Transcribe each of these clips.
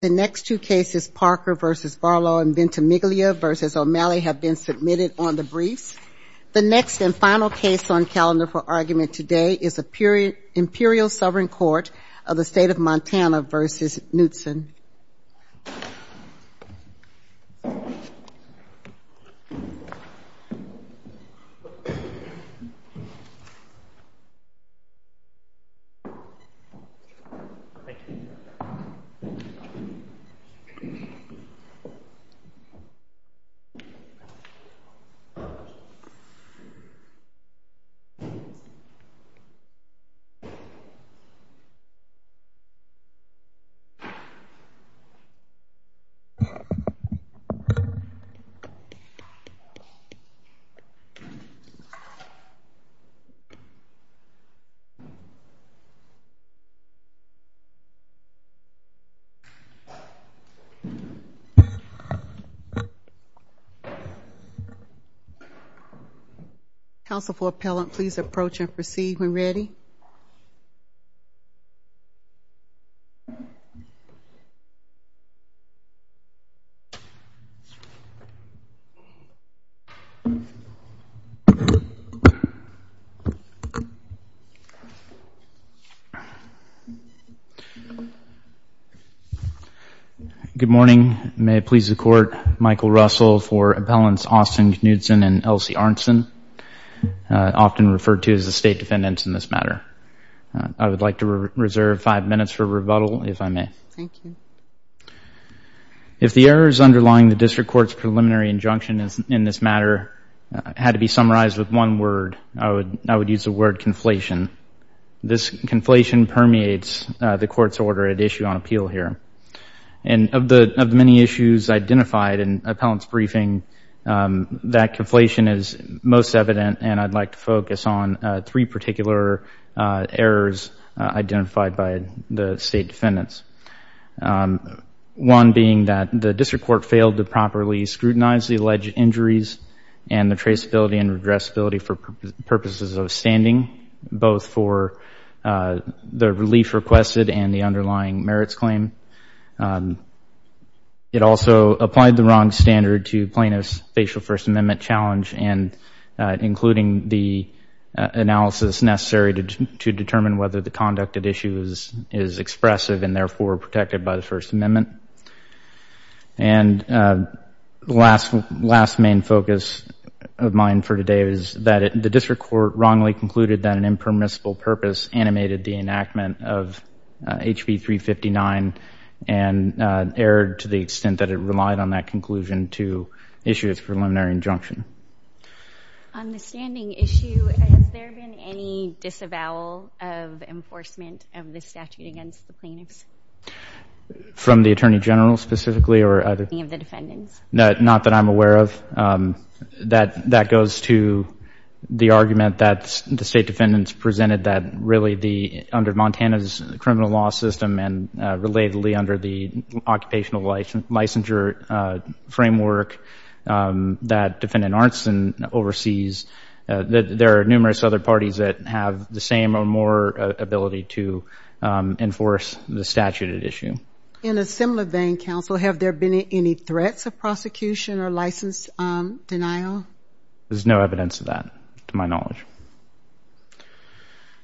The next two cases Parker v. Barlow and Ventimiglia v. O'Malley have been submitted on the briefs. The next and final case on calendar for argument today is the Imperial Sovereign Court of the Council for appellant please approach and proceed when ready Good morning. May it please the court, Michael Russell for appellants Austin Knudsen and Elsie Arntzen, often referred to as the state defendants in this matter. I would like to reserve five minutes for rebuttal, if I may. Thank you. If the errors underlying the district court's preliminary injunction in this matter had to be summarized with one word, I would use the word conflation. This conflation permeates the court's order at issue on appeal here. And of the many issues identified in appellant's briefing, that conflation is most evident and I'd like to focus on three particular errors identified by the state defendants. One being that the district court failed to properly scrutinize the alleged injuries and the traceability and regressability for purposes of standing, both for the relief requested and the underlying merits claim. It also applied the wrong standard to plaintiff's facial First Amendment challenge and including the analysis necessary to determine whether the conduct at issue is expressive and therefore protected by the First Amendment. And the last main focus of mine for today is that the district court wrongly concluded that an impermissible purpose animated the enactment of HB 359 and erred to the extent that it relied on that conclusion to issue its preliminary injunction. On the standing issue, has there been any disavowal of enforcement of the statute against the plaintiffs? From the attorney general specifically or other? Any of the defendants. Not that I'm aware of. That goes to the argument that the state defendants presented that really the, under Montana's criminal law system and relatedly under the occupational licensure framework that defendant Arnston oversees, that there are numerous other parties that have the same or more ability to enforce the statute at issue. In a similar vein, counsel, have there been any threats of prosecution or license denial? There's no evidence of that, to my knowledge.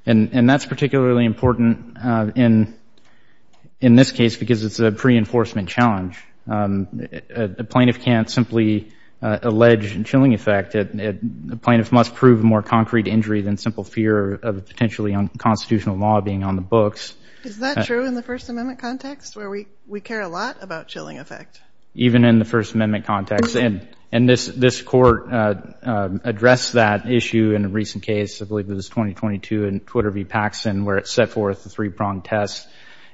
And that's particularly important in this case because it's a pre-enforcement challenge. A plaintiff can't simply allege a chilling effect. A plaintiff must prove a more concrete injury than simple fear of potentially unconstitutional law being on the books. Is that true in the First Amendment context where we care a lot about chilling effect? Even in the First Amendment context. And this court addressed that issue in a recent case, I believe it was 2022 in Paxson where it set forth the three-prong test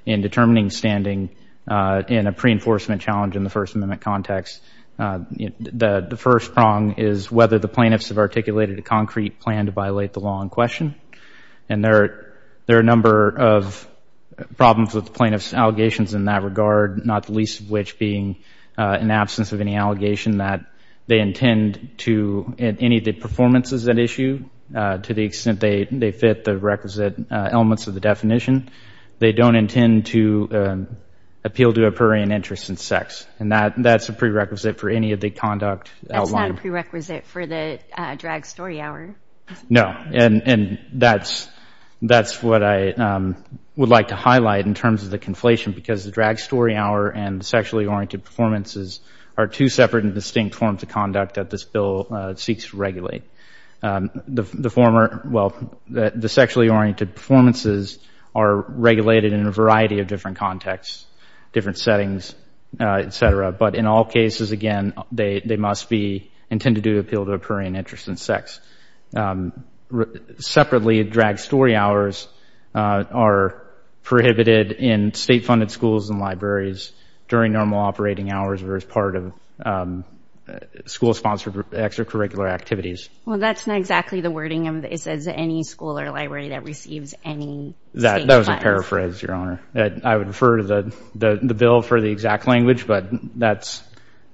in determining standing in a pre-enforcement challenge in the First Amendment context. The first prong is whether the plaintiffs have articulated a concrete plan to violate the law in question. And there are a number of problems with plaintiff's allegations in that regard, not the least of which being an absence of any allegation that they intend to, in any of the performances at issue, to the extent they fit the requisite elements of the definition, they don't intend to appeal to a prurient interest in sex. And that's a prerequisite for any of the conduct outlined. That's not a prerequisite for the drag story hour. No. And that's what I would like to highlight in terms of the conflation because the drag story hour and sexually oriented performances are two separate and distinct forms of conduct that this bill seeks to regulate. The former, well, the sexually oriented performances are regulated in a variety of different contexts, different settings, et cetera. But in all cases, again, they must be intended to appeal to a prurient interest in sex. Separately, drag story hours are prohibited in state-funded schools and libraries during normal operating hours or as part of school-sponsored extracurricular activities. Well, that's not exactly the wording. It says any school or library that receives any state funds. That was a paraphrase, Your Honor. I would refer to the bill for the exact language, but that's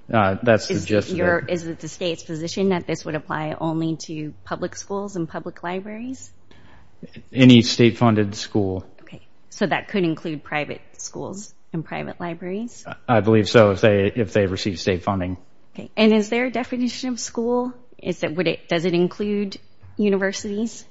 the gist of it. Is it the state's position that this would apply only to public schools and public libraries? Any state-funded school. Okay. So that could include private schools and private libraries? I believe so if they receive state funding. Okay. And is there a definition of school? Does it include universities?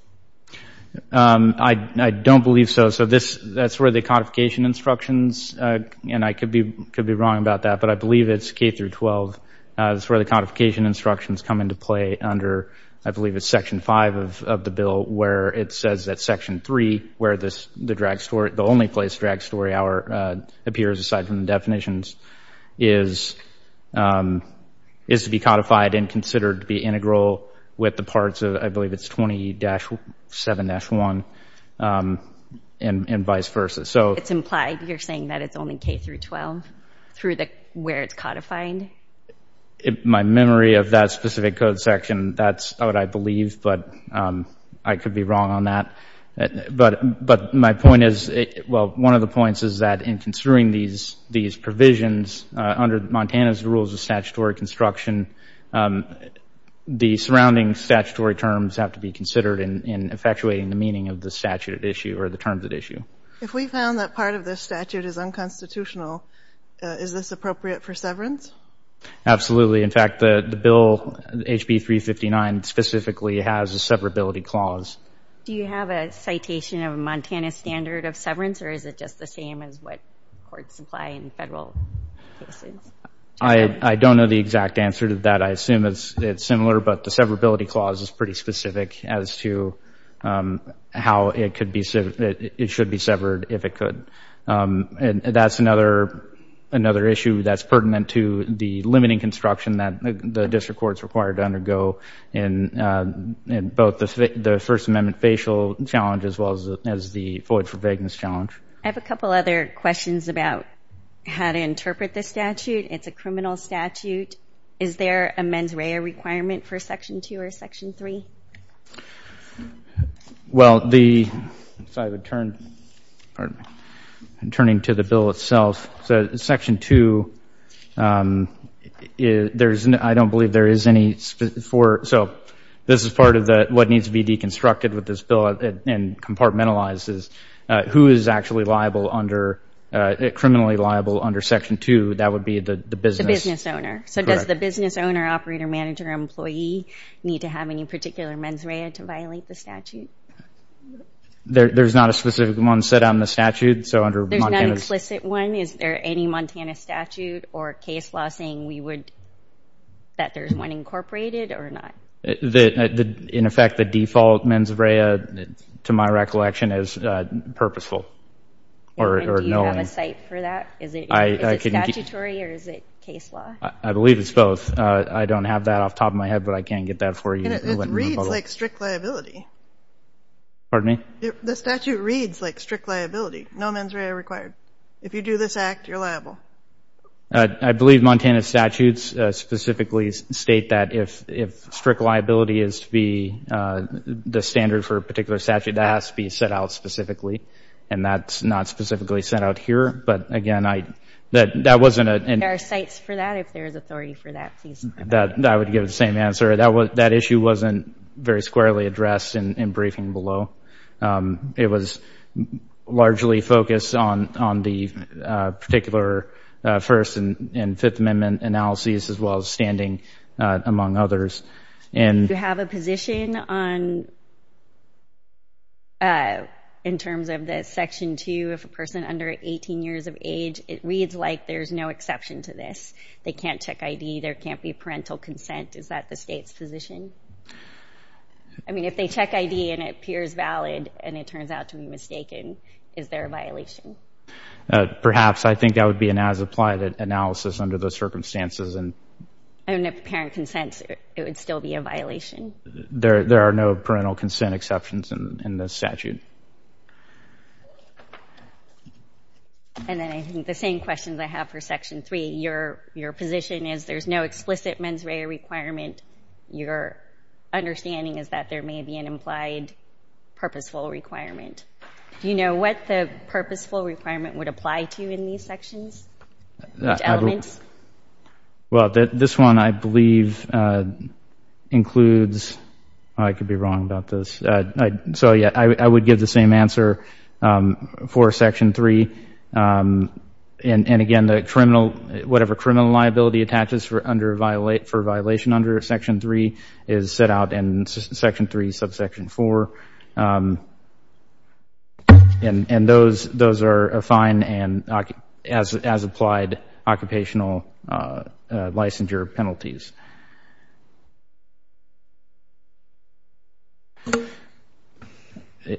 I don't believe so. So that's where the codification instructions, and I could be wrong about that, but I believe it's K through 12. That's where the codification instructions come into play under, I believe, it's section five of the bill where it says that section three, where the only place drag story hour appears aside from the definitions, is to be codified and considered to be integral with the parts of, I believe it's 20-7-1 and vice versa. So it's implied you're saying that it's only K through 12 through where it's codified? My memory of that specific code section, that's what I believe, but I could be wrong on that. But my point is, well, one of the points is that in considering these provisions under Montana's rules of statutory construction, the surrounding statutory terms have to be considered in effectuating the meaning of the statute at issue or the terms at issue. If we found that part of this statute is unconstitutional, is this appropriate for severance? Absolutely. In fact, the bill, HB 359, specifically has a severability clause. Do you have a citation of a Montana standard of severance, or is it just the same as what courts apply in federal cases? I don't know the exact answer to that. I assume it's similar, but the severability clause is pretty specific as to how it should be severed if it could. And that's another issue that's pertinent to the limiting construction that the district court's required to undergo in both the First Amendment facial challenge as well as the void for vagueness challenge. I have a couple other questions about how to interpret this statute. It's a criminal statute. Is there a mens rea requirement for Section 2 or Section 3? Well, the, if I would turn, pardon me, I'm turning to the bill itself. So Section 2, I don't believe there is any, so this is part of what needs to be deconstructed with this bill and compartmentalizes who is actually liable under, criminally liable under Section 2. That would be the business owner. So does the business owner, operator, manager, employee need to have any particular mens rea to violate the statute? There's not a specific one set on the statute. So under Montana's- There's no explicit one? Is there any Montana statute or case law saying we would, that there's one incorporated or not? In effect, the default mens rea, to my recollection, is purposeful or knowing. Do you have a site for that? Is it statutory or is it case law? I believe it's both. I don't have that off the top of my head, but I can get that for you. It reads like strict liability. Pardon me? The statute reads like strict liability. No mens rea required. If you do this act, you're liable. I believe Montana statutes specifically state that if strict liability is to be the standard for a particular statute, that has to be set out specifically. And that's not specifically set out here. But again, that wasn't a- There are sites for that? If there is authority for that, please- I would give the same answer. That issue wasn't very squarely addressed in briefing below. It was largely focused on the particular First and Fifth Amendment analyses, as well as standing, among others. And- Do you have a position on, in terms of the section two, if a person under 18 years of age, it reads like there's no exception to this. They can't check ID. There can't be parental consent. Is that the state's position? I mean, if they check ID and it appears valid, and it turns out to be mistaken, is there a violation? Perhaps. I think that would be an as-applied analysis under those circumstances. And- And if the parent consents, it would still be a violation. There are no parental consent exceptions in this statute. And then I think the same questions I have for section three. Your position is there's no explicit mens rea requirement. Your understanding is that there may be an implied purposeful requirement. Do you know what the purposeful requirement would apply to in these sections? Which elements? Well, this one, I believe, includes- I could be wrong about this. So, yeah, I would give the same answer for section three. And again, the criminal- whatever criminal liability attaches for under- section three is set out in section three, subsection four. And those- those are a fine and as- as applied occupational licensure penalties.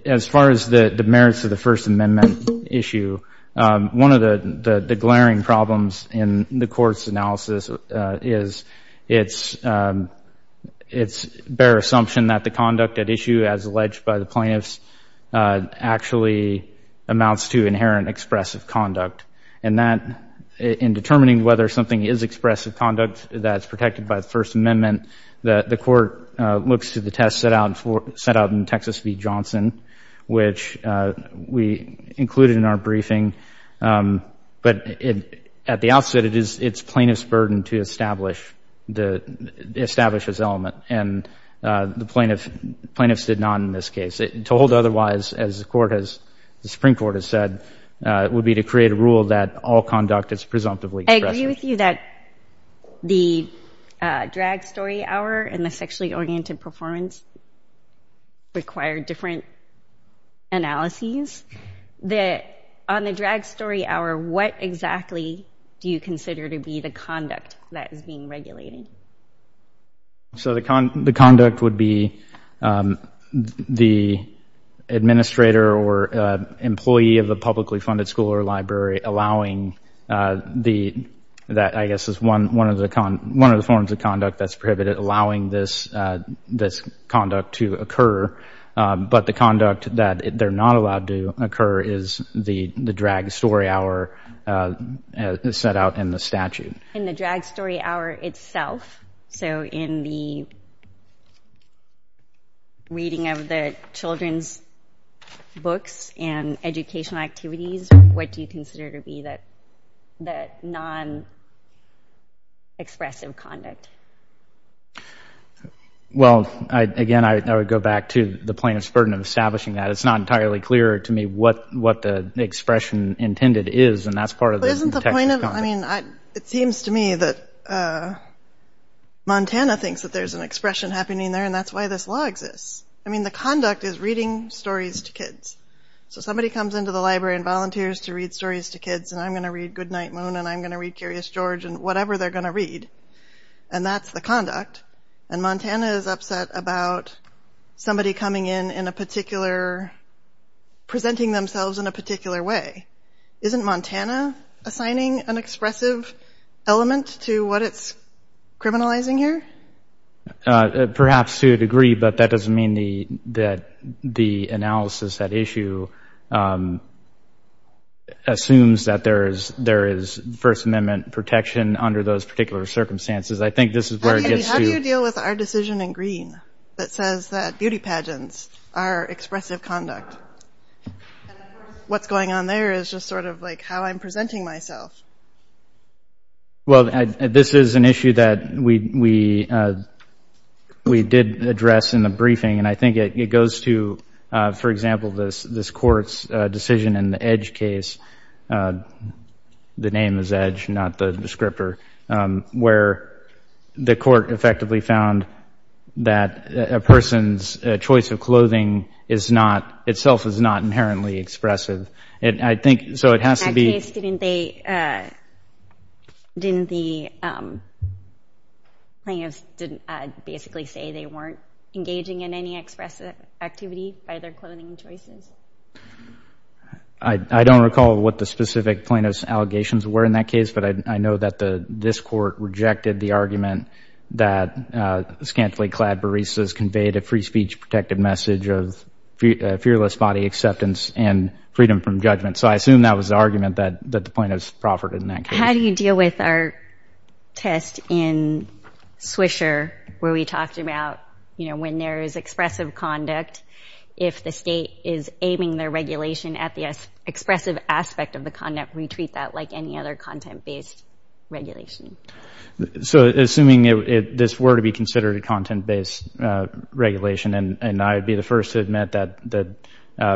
As far as the merits of the First Amendment issue, one of the- the glaring problems in the court's analysis is it's- it's bare assumption that the conduct at issue, as alleged by the plaintiffs, actually amounts to inherent expressive conduct. And that, in determining whether something is expressive conduct that's protected by the First Amendment, that the court looks to the test set out for- set out in Texas v. Johnson, which we included in our briefing. But it- at the outset, it is- it's plaintiff's burden to establish the- establish this element. And the plaintiff- plaintiffs did not in this case. Told otherwise, as the court has- the Supreme Court has said, would be to create a rule that all conduct is presumptively expressive. I agree with you that the drag story hour and the sexually oriented performance require different analyses. The- on the drag story hour, what exactly do you consider to be the conduct that is being regulated? So the con- the conduct would be the administrator or employee of a publicly funded school or library allowing the- that, I guess, is one- one of the con- but the conduct that they're not allowed to occur is the- the drag story hour set out in the statute. In the drag story hour itself, so in the reading of the children's books and educational activities, what do you consider to be that- that non-expressive conduct? Well, I- again, I would go back to the plaintiff's burden of establishing that. It's not entirely clear to me what- what the expression intended is, and that's part of the- Isn't the point of- I mean, it seems to me that Montana thinks that there's an expression happening there, and that's why this law exists. I mean, the conduct is reading stories to kids. So somebody comes into the library and volunteers to read stories to kids, and I'm going to read Goodnight Moon, and I'm going to read Curious George, and whatever they're going to read. And that's the conduct. And Montana is upset about somebody coming in in a particular- presenting themselves in a particular way. Isn't Montana assigning an expressive element to what it's criminalizing here? Perhaps to a degree, but that doesn't mean the- that the analysis, that issue assumes that there is- there is First Amendment protection under those particular circumstances. I think this is where it gets to- How do you deal with our decision in green that says that beauty pageants are expressive conduct? And of course, what's going on there is just sort of like how I'm presenting myself. Well, this is an issue that we- we did address in the briefing, and I think it goes to, for example, this court's decision in the Edge case. The name is Edge, not the descriptor, where the court effectively found that a person's choice of clothing is not- itself is not inherently expressive. And I think- so it has to be- In that case, didn't they- didn't the plaintiffs basically say they weren't engaging in any expressive activity by their clothing choices? I don't recall what the specific plaintiff's allegations were in that case, but I know that the- this court rejected the argument that scantily clad baristas conveyed a free speech protective message of fearless body acceptance and freedom from judgment. So I assume that was the argument that- that the plaintiffs proffered in that case. How do you deal with our test in Swisher where we talked about, you know, when there is expressive conduct, if the state is aiming their regulation at the expressive aspect of the conduct, we treat that like any other content-based regulation? So assuming it- this were to be considered a content-based regulation, and I'd be the first to admit that the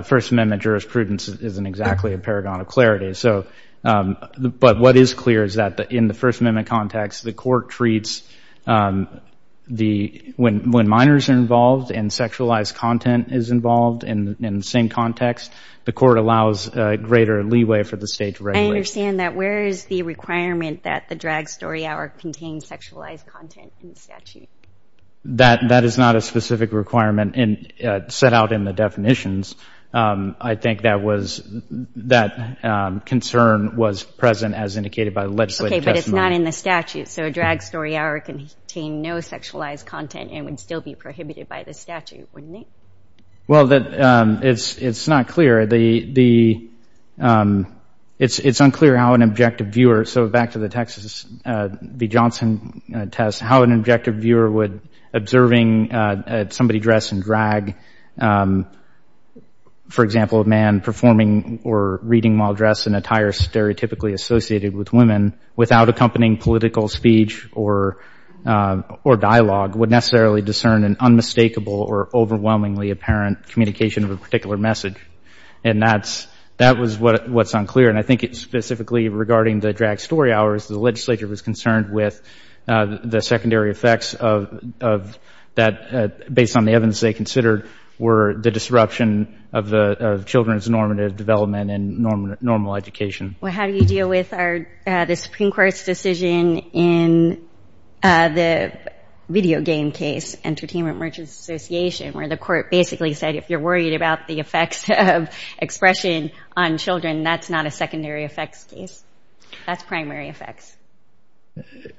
First Amendment jurisprudence isn't exactly a paragon of clarity. So- but what is clear is that in the First Amendment context, the court treats the- when minors are involved and sexualized content is involved in the same context, the court allows greater leeway for the state to regulate. I understand that. Where is the requirement that the drag story hour contains sexualized content in the statute? That- that is not a specific requirement in- set out in the definitions. I think that was- that concern was present as indicated by the legislative testimony. Not in the statute. So a drag story hour can contain no sexualized content and would still be prohibited by the statute, wouldn't it? Well, that- it's- it's not clear. The- the- it's- it's unclear how an objective viewer- so back to the Texas v. Johnson test, how an objective viewer would- observing somebody dress in drag, for example, a man performing or reading while dressed in attire stereotypically associated with women without accompanying political speech or- or dialogue would necessarily discern an unmistakable or overwhelmingly apparent communication of a particular message. And that's- that was what- what's unclear. And I think it's specifically regarding the drag story hours, the legislature was concerned with the secondary effects of- of that, based on the evidence they considered, were the disruption of the children's normative development and normal- normal education. Well, how do you deal with our- the Supreme Court's decision in the video game case, Entertainment Merchants Association, where the court basically said, if you're worried about the effects of expression on children, that's not a secondary effects case. That's primary effects.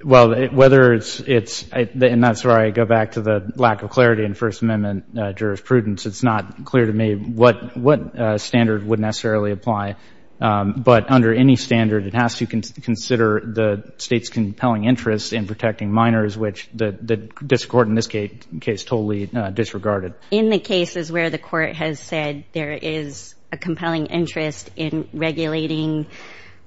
Well, whether it's- it's- and that's where I go back to the lack of clarity in First Amendment jurisprudence. It's not clear to me what- what standard would necessarily apply. But under any standard, it has to consider the state's compelling interest in protecting minors, which the- the district court in this case totally disregarded. In the cases where the court has said there is a compelling interest in regulating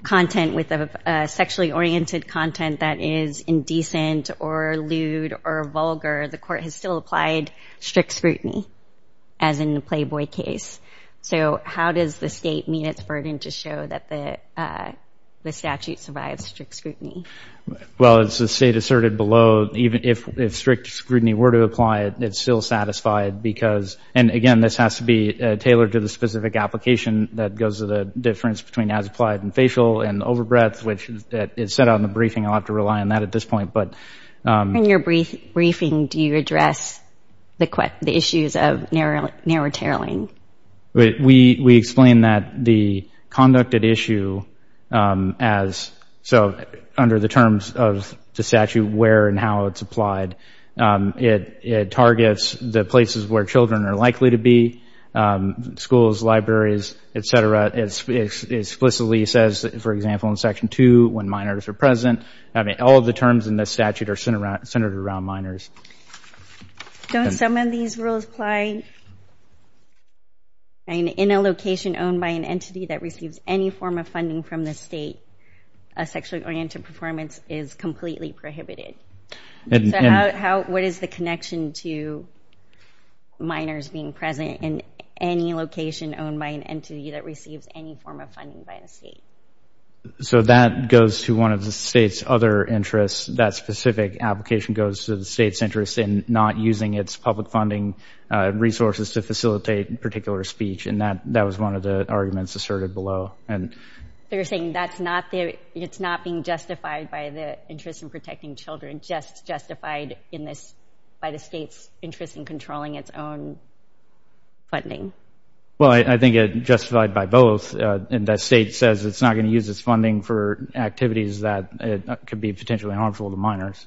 content with a sexually oriented content that is indecent or lewd or vulgar, the court has still applied strict scrutiny. As in the Playboy case. So how does the state meet its burden to show that the- the statute survives strict scrutiny? Well, as the state asserted below, even if- if strict scrutiny were to apply it, it's still satisfied because- and again, this has to be tailored to the specific application that goes to the difference between as applied and facial and overbreadth, which is set out in the briefing. I'll have to rely on that at this point. In your brief- briefing, do you address the- the issues of narrow- narrow tailing? We- we explain that the conducted issue as- so under the terms of the statute where and how it's applied, it- it targets the places where children are likely to be, schools, libraries, et cetera. It explicitly says, for example, in Section 2, when minors are present. I mean, all of the terms in this statute are centered around- centered around minors. Don't some of these rules apply? I mean, in a location owned by an entity that receives any form of funding from the state, a sexually oriented performance is completely prohibited. So how- what is the connection to minors being present in any location owned by an entity that receives any form of funding by the state? So that goes to one of the state's other interests. That specific application goes to the state's interest in not using its public funding resources to facilitate particular speech. And that- that was one of the arguments asserted below. And you're saying that's not the- it's not being justified by the interest in protecting children, just justified in this- by the state's interest in controlling its own funding? Well, I think it justified by both. And the state says it's not going to use its funding for activities that could be potentially harmful to minors.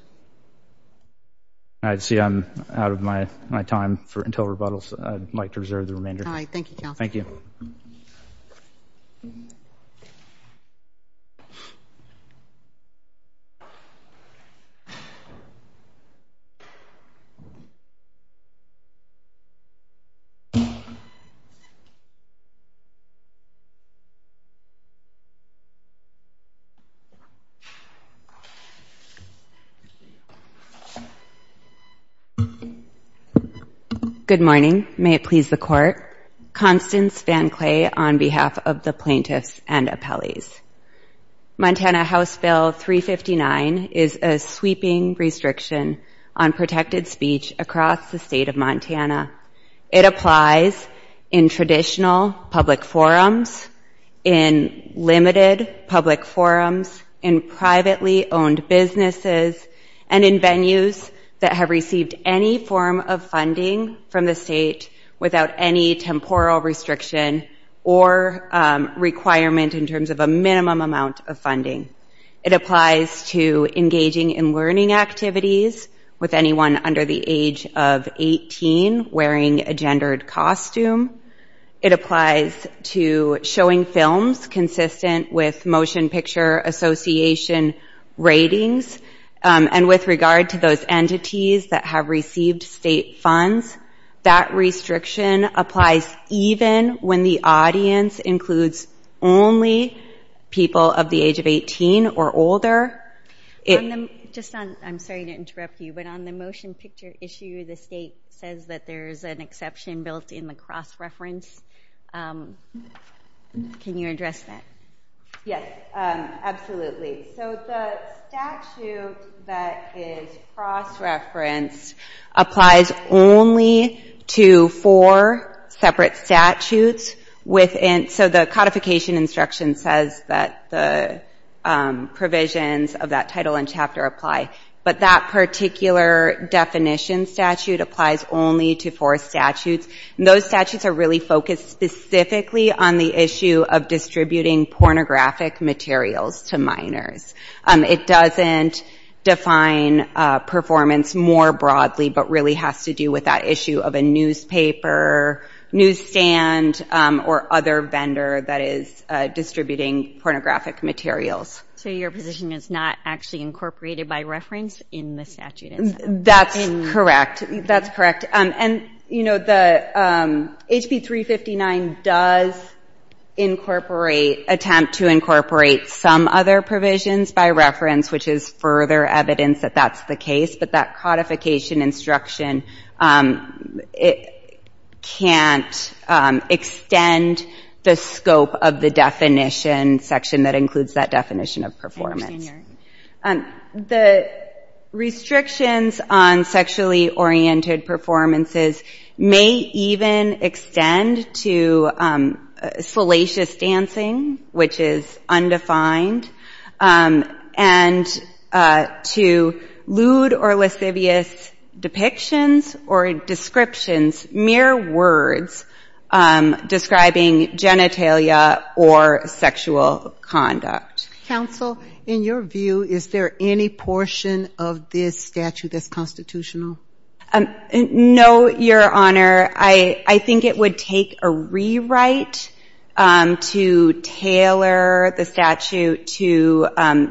I see I'm out of my- my time for- until rebuttals. I'd like to reserve the remainder. All right, thank you, Councilman. Thank you. Good morning. May it please the Court. Constance VanCleay on behalf of the plaintiffs and appellees. Montana House Bill 359 is a sweeping restriction on protected speech across the state of Montana. It applies in traditional public forums, in limited public forums, in privately owned businesses, and in venues that have received any form of funding from the state without any temporal restriction or requirement in terms of a minimum amount of funding. It applies to engaging in learning activities with anyone under the age of 18 wearing a gendered costume. It applies to showing films consistent with Motion Picture Association ratings. And with regard to those entities that have received state funds, that restriction applies even when the audience includes only people of the age of 18 or older. Just on- I'm sorry to interrupt you, but on the motion picture issue, the state says that there's an exception built in the cross-reference. Can you address that? Yes, absolutely. So the statute that is cross-referenced applies only to four separate statutes within- so the codification instruction says that the provisions of that title and chapter apply. But that particular definition statute applies only to four statutes, and those statutes are really focused specifically on the issue of distributing pornographic materials to minors. It doesn't define performance more broadly, but really has to do with that issue of a newspaper, newsstand, or other vendor that is distributing pornographic materials. So your position is not actually incorporated by reference in the statute itself? That's correct. That's correct. And, you know, the- HP 359 does incorporate- attempt to incorporate some other provisions by reference, which is further evidence that that's the case. But that codification instruction can't extend the scope of the definition section that includes that definition of performance. The restrictions on sexually-oriented performances may even extend to salacious dancing, which is undefined, and to lewd or lascivious depictions or descriptions, mere words describing genitalia or sexual conduct. Counsel, in your view, is there any portion of this statute that's constitutional? No, Your Honor. I think it would take a rewrite to tailor the statute to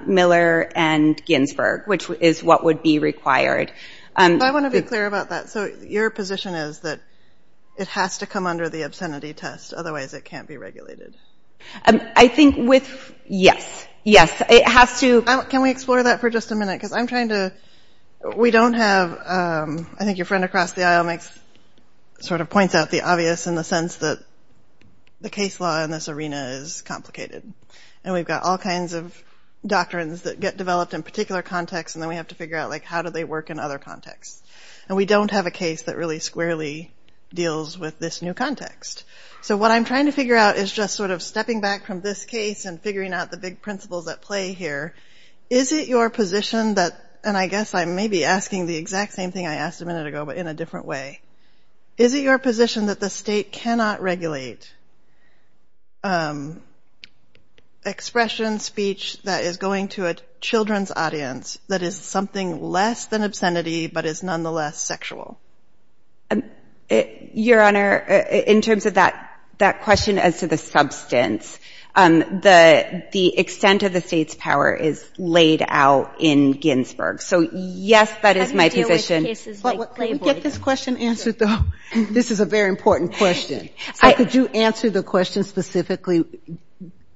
Miller and Ginsburg, which is what would be required. I want to be clear about that. Your position is that it has to come under the obscenity test, otherwise it can't be regulated? I think with- yes. Yes, it has to- Can we explore that for just a minute? Because I'm trying to- we don't have- I think your friend across the aisle makes- sort of points out the obvious in the sense that the case law in this arena is complicated. And we've got all kinds of doctrines that get developed in particular contexts, and then we have to figure out, like, how do they work in other contexts? And we don't have a case that really squarely deals with this new context. So what I'm trying to figure out is just sort of stepping back from this case and figuring out the big principles at play here. Is it your position that- and I guess I may be asking the exact same thing I asked a minute ago, but in a different way. Is it your position that the state cannot regulate expression, speech that is going to a children's audience, that is something less than obscenity, but is nonetheless sexual? Your Honor, in terms of that question as to the substance, the extent of the state's power is laid out in Ginsburg. So, yes, that is my position. How do you deal with cases like- Let me get this question answered, though. This is a very important question. So could you answer the question specifically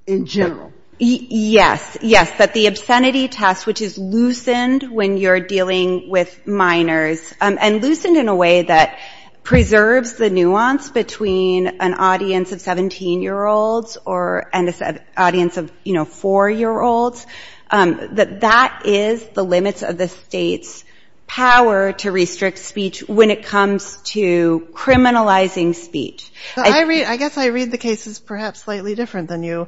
in general? Yes. Yes, that the obscenity test, which is loosened when you're dealing with minors and loosened in a way that preserves the nuance between an audience of 17-year-olds or an audience of, you know, four-year-olds, that that is the limits of the state's power to restrict speech when it comes to criminalizing speech. I guess I read the cases perhaps slightly different than you.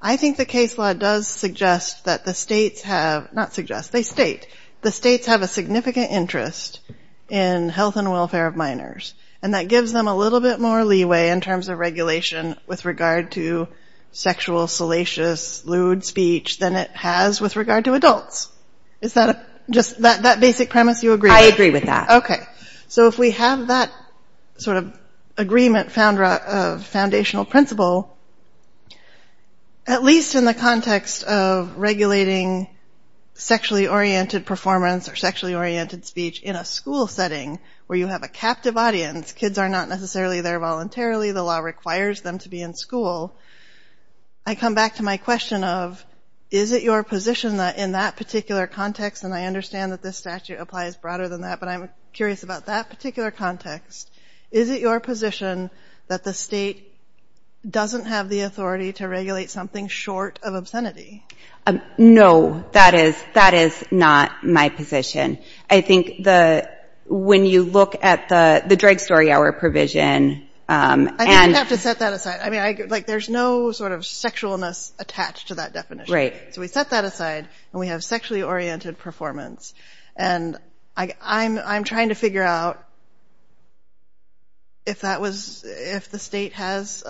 I think the case law does suggest that the states have- not suggest, they state- the states have a significant interest in health and welfare of minors, and that gives them a little bit more leeway in terms of regulation with regard to sexual, salacious, lewd speech than it has with regard to adults. Is that just that basic premise you agree with? I agree with that. Okay. So if we have that sort of agreement of foundational principle, at least in the context of regulating sexually-oriented performance or sexually-oriented speech in a school setting where you have a captive audience, kids are not necessarily there voluntarily, the law requires them to be in school, I come back to my question of, is it your position that in that particular context, and I understand that this statute applies broader than that, but I'm curious about that particular context, is it your position that the state doesn't have the authority to regulate something short of obscenity? No, that is not my position. I think when you look at the drug story hour provision- I think you have to set that aside. I mean, there's no sort of sexualness attached to that definition. Right. So we set that aside and we have sexually-oriented performance. And I'm trying to figure out if that was- if the state has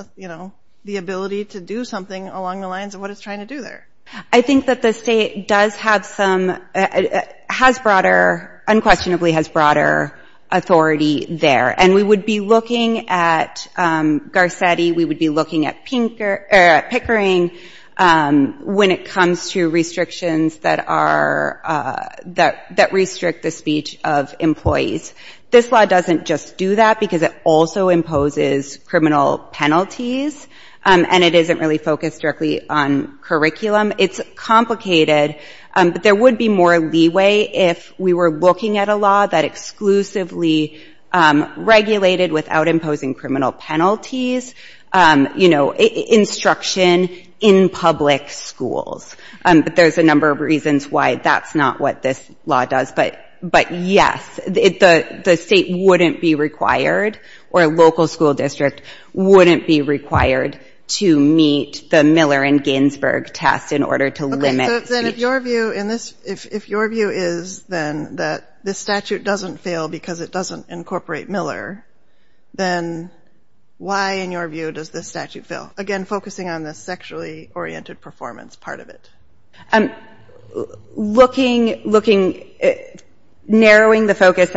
the ability to do something along the lines of what it's trying to do there. I think that the state does have some- unquestionably has broader authority there. And we would be looking at Garcetti, we would be looking at Pickering when it comes to restrictions that are- that restrict the speech of employees. This law doesn't just do that because it also imposes criminal penalties and it isn't really focused directly on curriculum. It's complicated, but there would be more leeway if we were looking at a law that exclusively regulated without imposing criminal penalties, you know, instruction in public schools. But there's a number of reasons why that's not what this law does. But yes, the state wouldn't be required or a local school district wouldn't be required to meet the Miller and Ginsburg test in order to limit speech. So then if your view in this- if your view is then that this statute doesn't fail because it doesn't incorporate Miller, then why, in your view, does this statute fail? Again, focusing on the sexually-oriented performance part of it. Looking, looking- narrowing the focus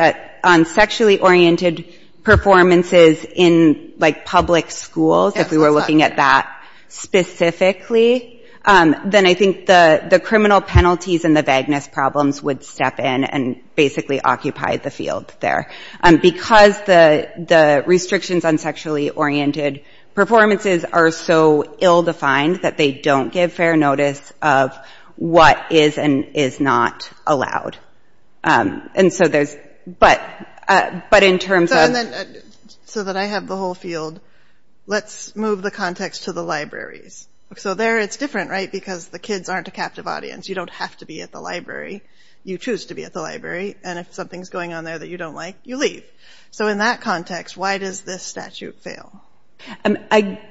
on sexually-oriented performances in like public schools, if we were looking at that specifically, then I think the criminal penalties and the vagueness problems would step in and basically occupy the field there. Because the restrictions on sexually-oriented performances are so ill-defined that they don't give fair notice of what is and is not allowed. And so there's- but in terms of- And then, so that I have the whole field, let's move the context to the libraries. So there it's different, right? Because the kids aren't a captive audience. You don't have to be at the library. You choose to be at the library. And if something's going on there that you don't like, you leave. So in that context, why does this statute fail? Again,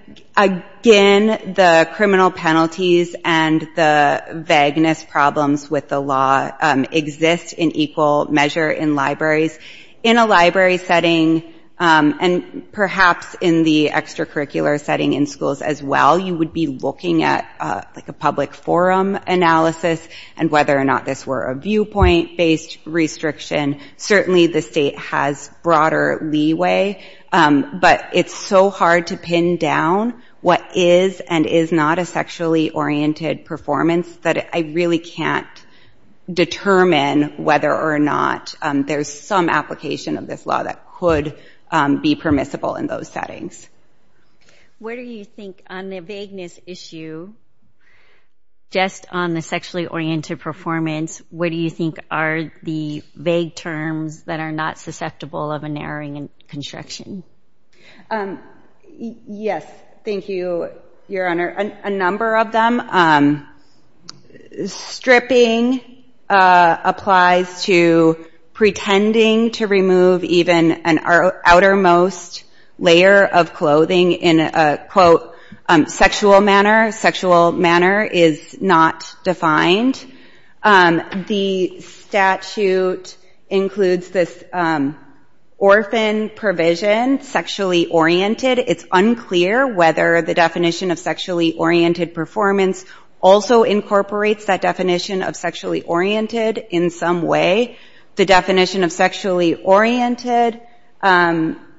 the criminal penalties and the vagueness problems with the law exist in equal measure in libraries. In a library setting, and perhaps in the extracurricular setting in schools as well, you would be looking at like a public forum analysis and whether or not this were a viewpoint-based restriction. Certainly the state has broader leeway, but it's so hard to pin down what is and is not a sexually-oriented performance that I really can't determine whether or not there's some application of this law that could be permissible in those settings. What do you think on the vagueness issue, just on the sexually-oriented performance, what do you think are the vague terms that are not susceptible of a narrowing in construction? Yes, thank you, Your Honor. A number of them. Stripping applies to pretending to remove even an outermost layer of clothing in a, quote, sexual manner. Sexual manner is not defined. The statute includes this orphan provision, sexually-oriented. It's unclear whether the definition of sexually-oriented performance also incorporates that definition of sexually-oriented in some way. The definition of sexually-oriented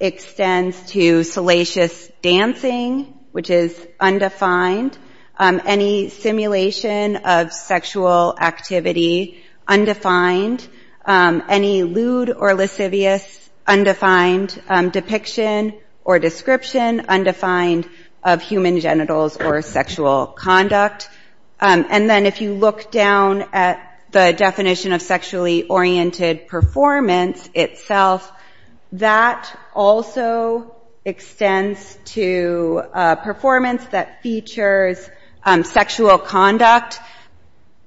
extends to salacious dancing, which is undefined. Any simulation of sexual activity, undefined. Any lewd or lascivious, undefined. Depiction or description, undefined of human genitals or sexual conduct. And then if you look down at the definition of sexually-oriented performance itself, that also extends to performance that features sexual conduct.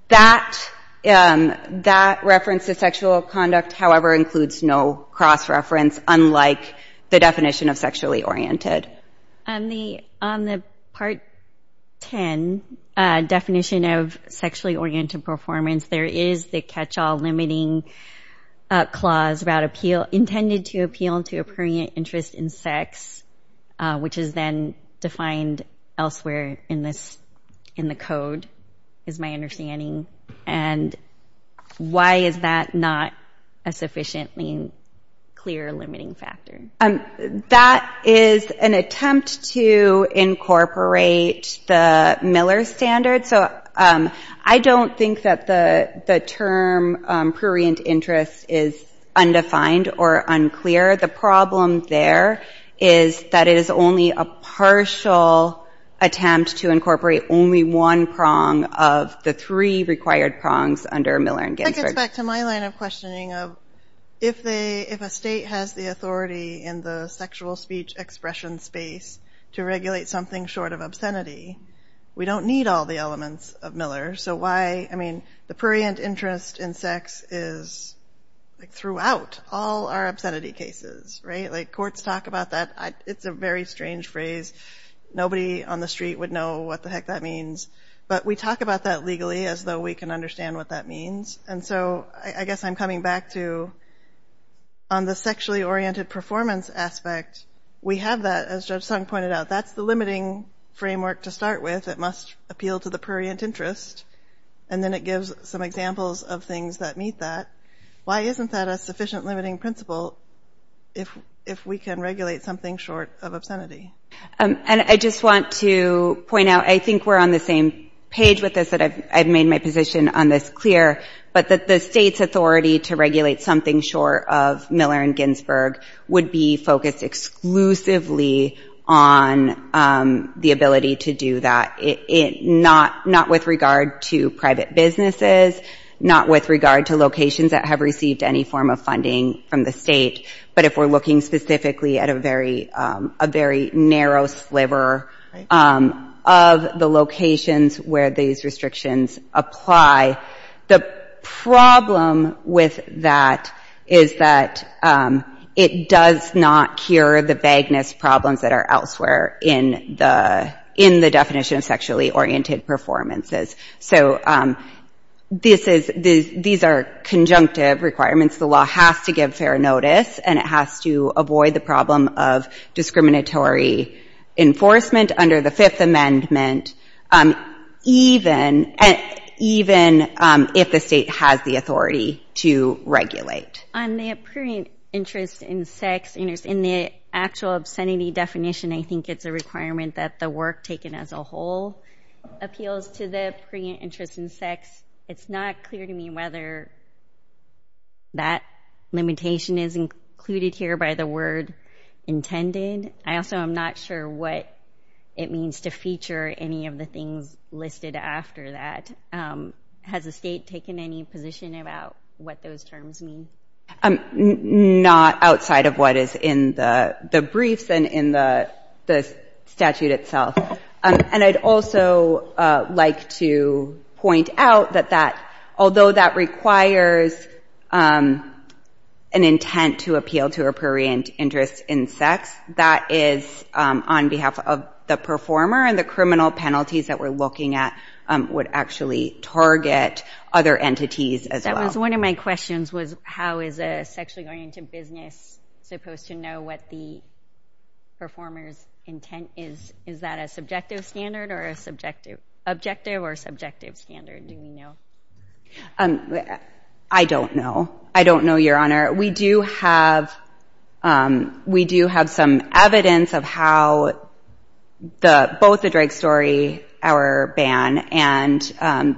That reference to sexual conduct, however, includes no cross-reference, unlike the definition of sexually-oriented. On the Part 10 definition of sexually-oriented performance, there is the catch-all limiting clause about intended to appeal to a prurient interest in sex, which is then defined elsewhere in the code, is my understanding. And why is that not a sufficiently clear limiting factor? That is an attempt to incorporate the Miller standard. So I don't think that the term prurient interest is undefined or unclear. The problem there is that it is only a partial attempt to incorporate only one prong of the three required prongs under Miller and Ginsberg. That gets back to my line of questioning of if a state has the authority in the sexual speech expression space to regulate something short of obscenity, we don't need all the elements of Miller. So why, I mean, the prurient interest in sex is throughout all our obscenity cases, right? Courts talk about that. It's a very strange phrase. Nobody on the street would know what the heck that means. But we talk about that legally as though we can understand what that means. And so I guess I'm coming back to on the sexually-oriented performance aspect, we have that, as Judge Sung pointed out, that's the limiting framework to start with. It must appeal to the prurient interest. And then it gives some examples of things that meet that. Why isn't that a sufficient limiting principle if we can regulate something short of obscenity? And I just want to point out, I think we're on the same page with this that I've made my position on this clear, but that the state's authority to regulate something short of Miller and Ginsberg would be focused exclusively on the ability to do that, not with regard to private businesses, not with regard to locations that have received any form of funding from the state. But if we're looking specifically at a very narrow sliver of the locations where these restrictions apply, the problem with that is that it does not cure the vagueness problems that are elsewhere in the definition of sexually-oriented performances. So these are conjunctive requirements. The law has to give fair notice, and it has to avoid the problem of discriminatory enforcement under the Fifth Amendment, even if the state has the authority to regulate. On the prurient interest in sex, in the actual obscenity definition, I think it's a requirement that the work taken as a whole appeals to the prurient interest in sex. It's not clear to me whether that limitation is included here by the word intended. I also am not sure what it means to feature any of the things listed after that. Has the state taken any position about what those terms mean? I'm not outside of what is in the briefs and in the statute itself. And I'd also like to point out that although that requires an intent to appeal to a prurient interest in sex, that is on behalf of the performer, and the criminal penalties that we're looking at would actually target other entities as well. One of my questions was, how is a sexually oriented business supposed to know what the performer's intent is? Is that a subjective standard or a subjective objective or subjective standard? Do you know? I don't know. I don't know, Your Honor. We do have some evidence of how both the drag story, our ban, and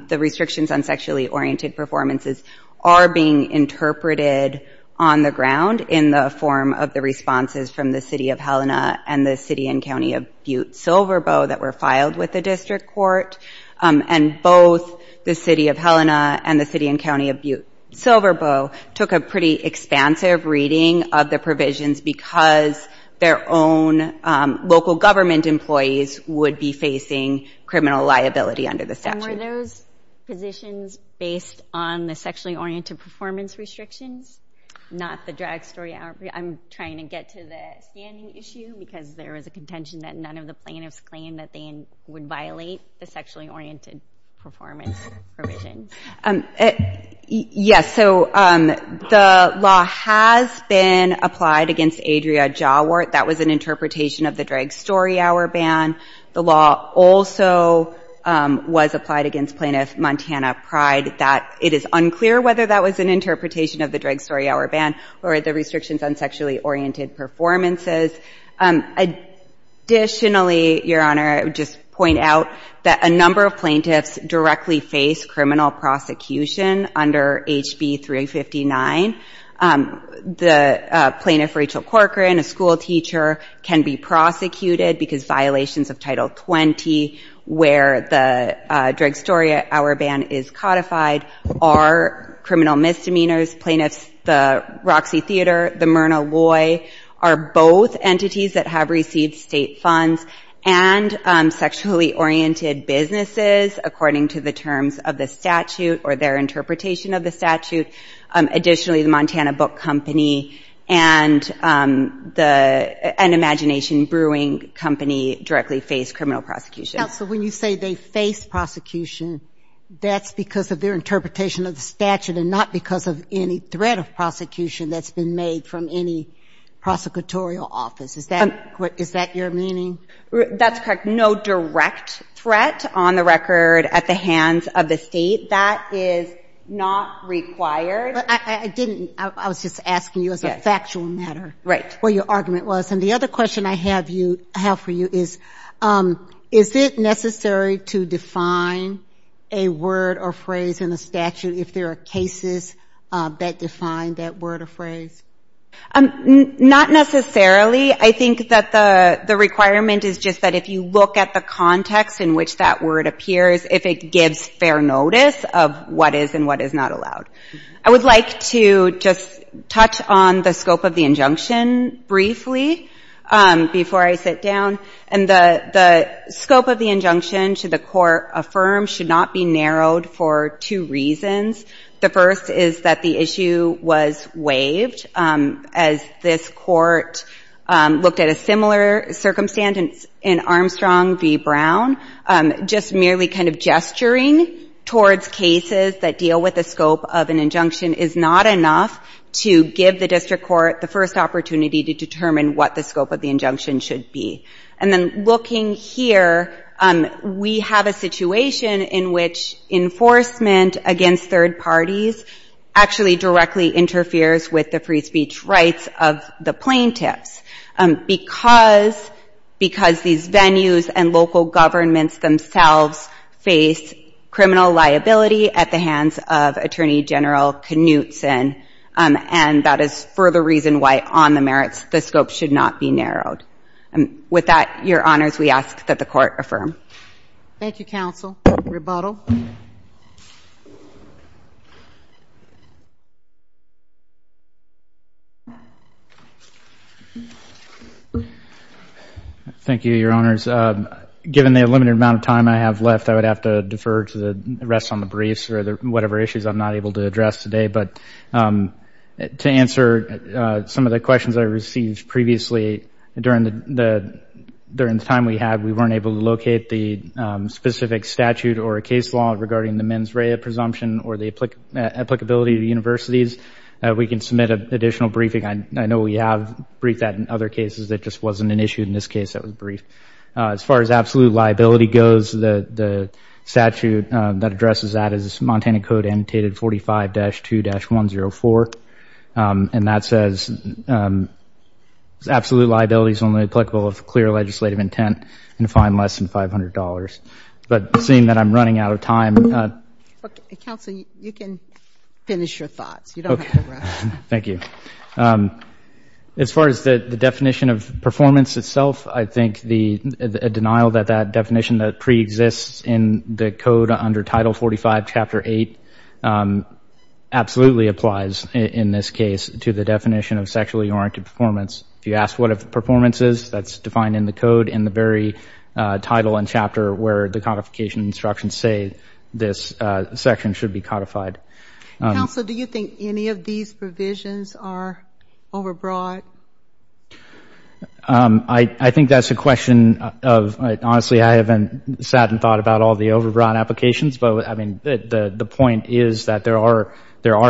the restrictions on sexually oriented performances are being interpreted on the ground in the form of the responses from the City of Helena and the City and County of Butte-Silverboe that were filed with the District Court. And both the City of Helena and the City and County of Butte-Silverboe took a pretty expansive reading of the provisions because their own local government employees would be facing criminal liability under the statute. Were those positions based on the sexually oriented performance restrictions, not the drag story hour? I'm trying to get to the standing issue because there was a contention that none of the plaintiffs claimed that they would violate the sexually oriented performance provisions. Yes. So the law has been applied against Adria Jawort. That was an interpretation of the drag story hour ban. The law also was applied against Plaintiff Montana Pride. That it is unclear whether that was an interpretation of the drag story hour ban or the restrictions on sexually oriented performances. Additionally, Your Honor, I would just point out that a number of plaintiffs directly face criminal prosecution under HB 359. The Plaintiff Rachel Corcoran, a school teacher, can be prosecuted because violations of Title 20 where the drag story hour ban is codified are criminal misdemeanors. Plaintiffs, the Roxy Theater, the Myrna Loy are both entities that have received state funds and sexually oriented businesses according to the terms of the statute or their interpretation of the statute. Additionally, the Montana Book Company and the Imagination Brewing Company directly face criminal prosecution. Now, so when you say they face prosecution, that's because of their interpretation of the statute and not because of any threat of prosecution that's been made from any prosecutorial office. Is that your meaning? That's correct. No direct threat on the record at the hands of the state. That is not required. I didn't. I was just asking you as a factual matter what your argument was. And the other question I have for you is, is it necessary to define a word or phrase in the statute if there are cases that define that word or phrase? Not necessarily. I think that the requirement is just that if you look at the context in which that word appears, if it gives fair notice of what is and what is not allowed. I would like to just touch on the scope of the injunction briefly before I sit down. And the scope of the injunction to the court affirmed should not be narrowed for two reasons. The first is that the issue was waived as this court looked at a similar circumstance in Armstrong v. Brown, just merely kind of gesturing towards cases that deal with the scope of an injunction is not enough to give the district court the first opportunity to determine what the scope of the injunction should be. And then looking here, we have a situation in which enforcement against third parties actually directly interferes with the free speech rights of the plaintiffs because these venues and local governments themselves face criminal liability at the hands of Attorney General Knutson. And that is for the reason why on the merits, the scope should not be narrowed. With that, Your Honors, we ask that the court affirm. Thank you, counsel. Rebuttal. Thank you, Your Honors. Given the limited amount of time I have left, I would have to defer to the rest on the briefs or whatever issues I'm not able to address today. But to answer some of the questions I received previously during the time we had, we weren't able to locate the specific statute or a case law regarding the mens rea presumption or the applicability to universities. We can submit an additional briefing. I know we have briefed that in other cases that just wasn't an issue. In this case, that was brief. As far as absolute liability goes, the statute that addresses that is Montana Code Annotated 45-2-104. And that says absolute liability is only applicable if clear legislative intent and fine less than $500. But seeing that I'm running out of time. Counsel, you can finish your thoughts. You don't have to rush. Thank you. As far as the definition of performance itself, I think the denial that that definition pre-exists in the code under Title 45, Chapter 8 absolutely applies in this case to the definition of sexually oriented performance. If you ask what a performance is, that's defined in the code in the very title and chapter where the codification instructions say this section should be codified. Counsel, do you think any of these provisions are overbroad? I think that's a question of, honestly, I haven't sat and thought about all the overbroad applications. But I mean, the point is that there are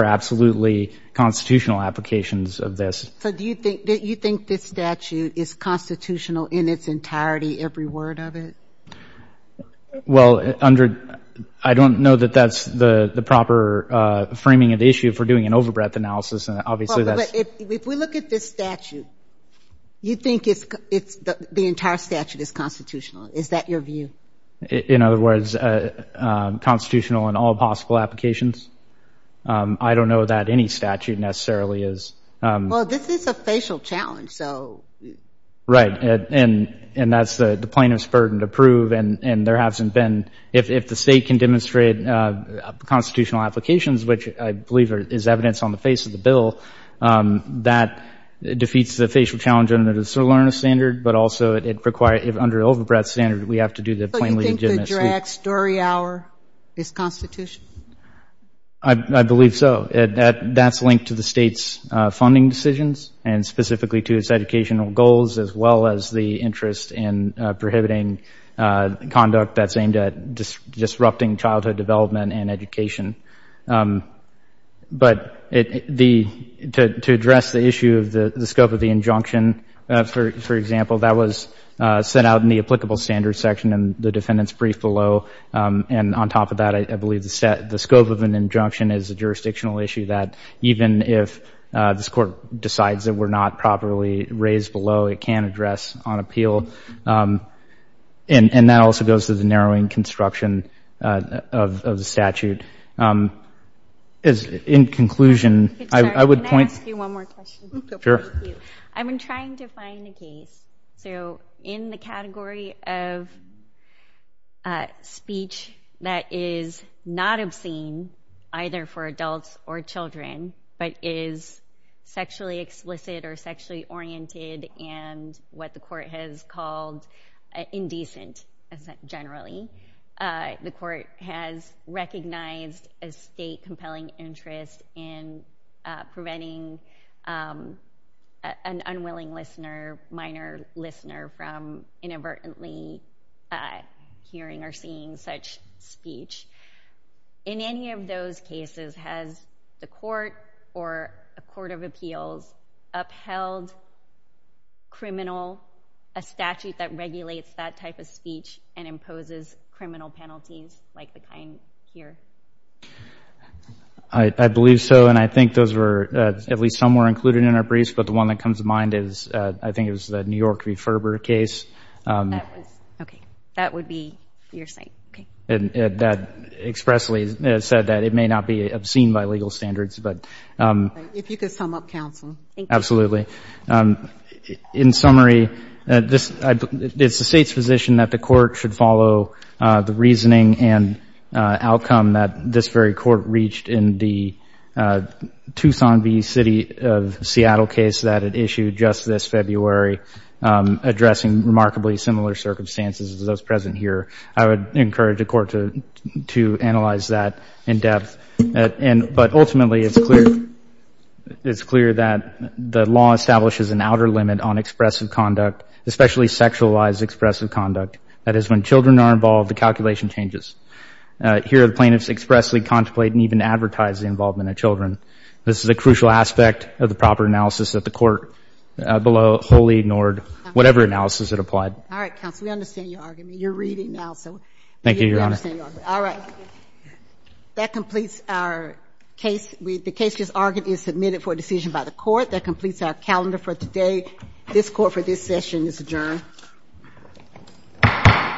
absolutely constitutional applications of this. So do you think this statute is constitutional in its entirety, every word of it? Well, I don't know that that's the proper framing of the issue for doing an overbreadth analysis. But if we look at this statute, you think the entire statute is constitutional. Is that your view? In other words, constitutional in all possible applications? I don't know that any statute necessarily is. Well, this is a facial challenge. Right, and that's the plaintiff's burden to prove. And there hasn't been, if the state can demonstrate constitutional applications, which I believe is evidence on the face of the bill, that defeats the facial challenge under the SIRLERNA standard. But also, it requires, if under an overbreadth standard, we have to do the plain legitimacy. So you think the drag story hour is constitutional? I believe so. That's linked to the state's funding decisions and specifically to its educational goals, as well as the interest in prohibiting conduct that's aimed at disrupting childhood development and education. But to address the issue of the scope of the injunction, for example, that was set out in the applicable standards section in the defendant's brief below. And on top of that, I believe the scope of an injunction is a jurisdictional issue that even if this court decides that we're not properly raised below, it can address on appeal. And that also goes to the narrowing construction of the statute. As in conclusion, I would point... Can I ask you one more question? Sure. I've been trying to find a case. So in the category of speech that is not obscene, either for adults or children, but is sexually explicit or sexually oriented and what the court has called indecent, generally, the court has recognized a state compelling interest in preventing an unwilling listener, minor listener, from inadvertently hearing or seeing such speech. In any of those cases, has the court or a court of appeals upheld criminal, a statute that regulates that type of speech and imposes criminal penalties like the kind here? I believe so. And I think those were, at least some were included in our briefs, but the one that comes to mind is, I think it was the New York referber case. Okay. That would be your site. Okay. That expressly said that it may not be obscene by legal standards, but... If you could sum up, counsel. Absolutely. In summary, it's the state's position that the court should follow the reasoning and outcome that this very court reached in the Tucson v. City of Seattle case that it issued just this February, addressing remarkably similar circumstances as those present here. I would encourage the court to analyze that in depth. But ultimately, it's clear that the law establishes an outer limit on expressive conduct, especially sexualized expressive conduct. That is, when children are involved, the calculation changes. Here, the plaintiffs expressly contemplate and even advertise the involvement of children. This is a crucial aspect of the proper analysis that the court below wholly ignored whatever analysis it applied. All right, counsel. We understand your argument. You're reading now, so... Thank you, Your Honor. All right. Thank you. That completes our case. The case just argued is submitted for decision by the court. That completes our calendar for today. This court for this session is adjourned.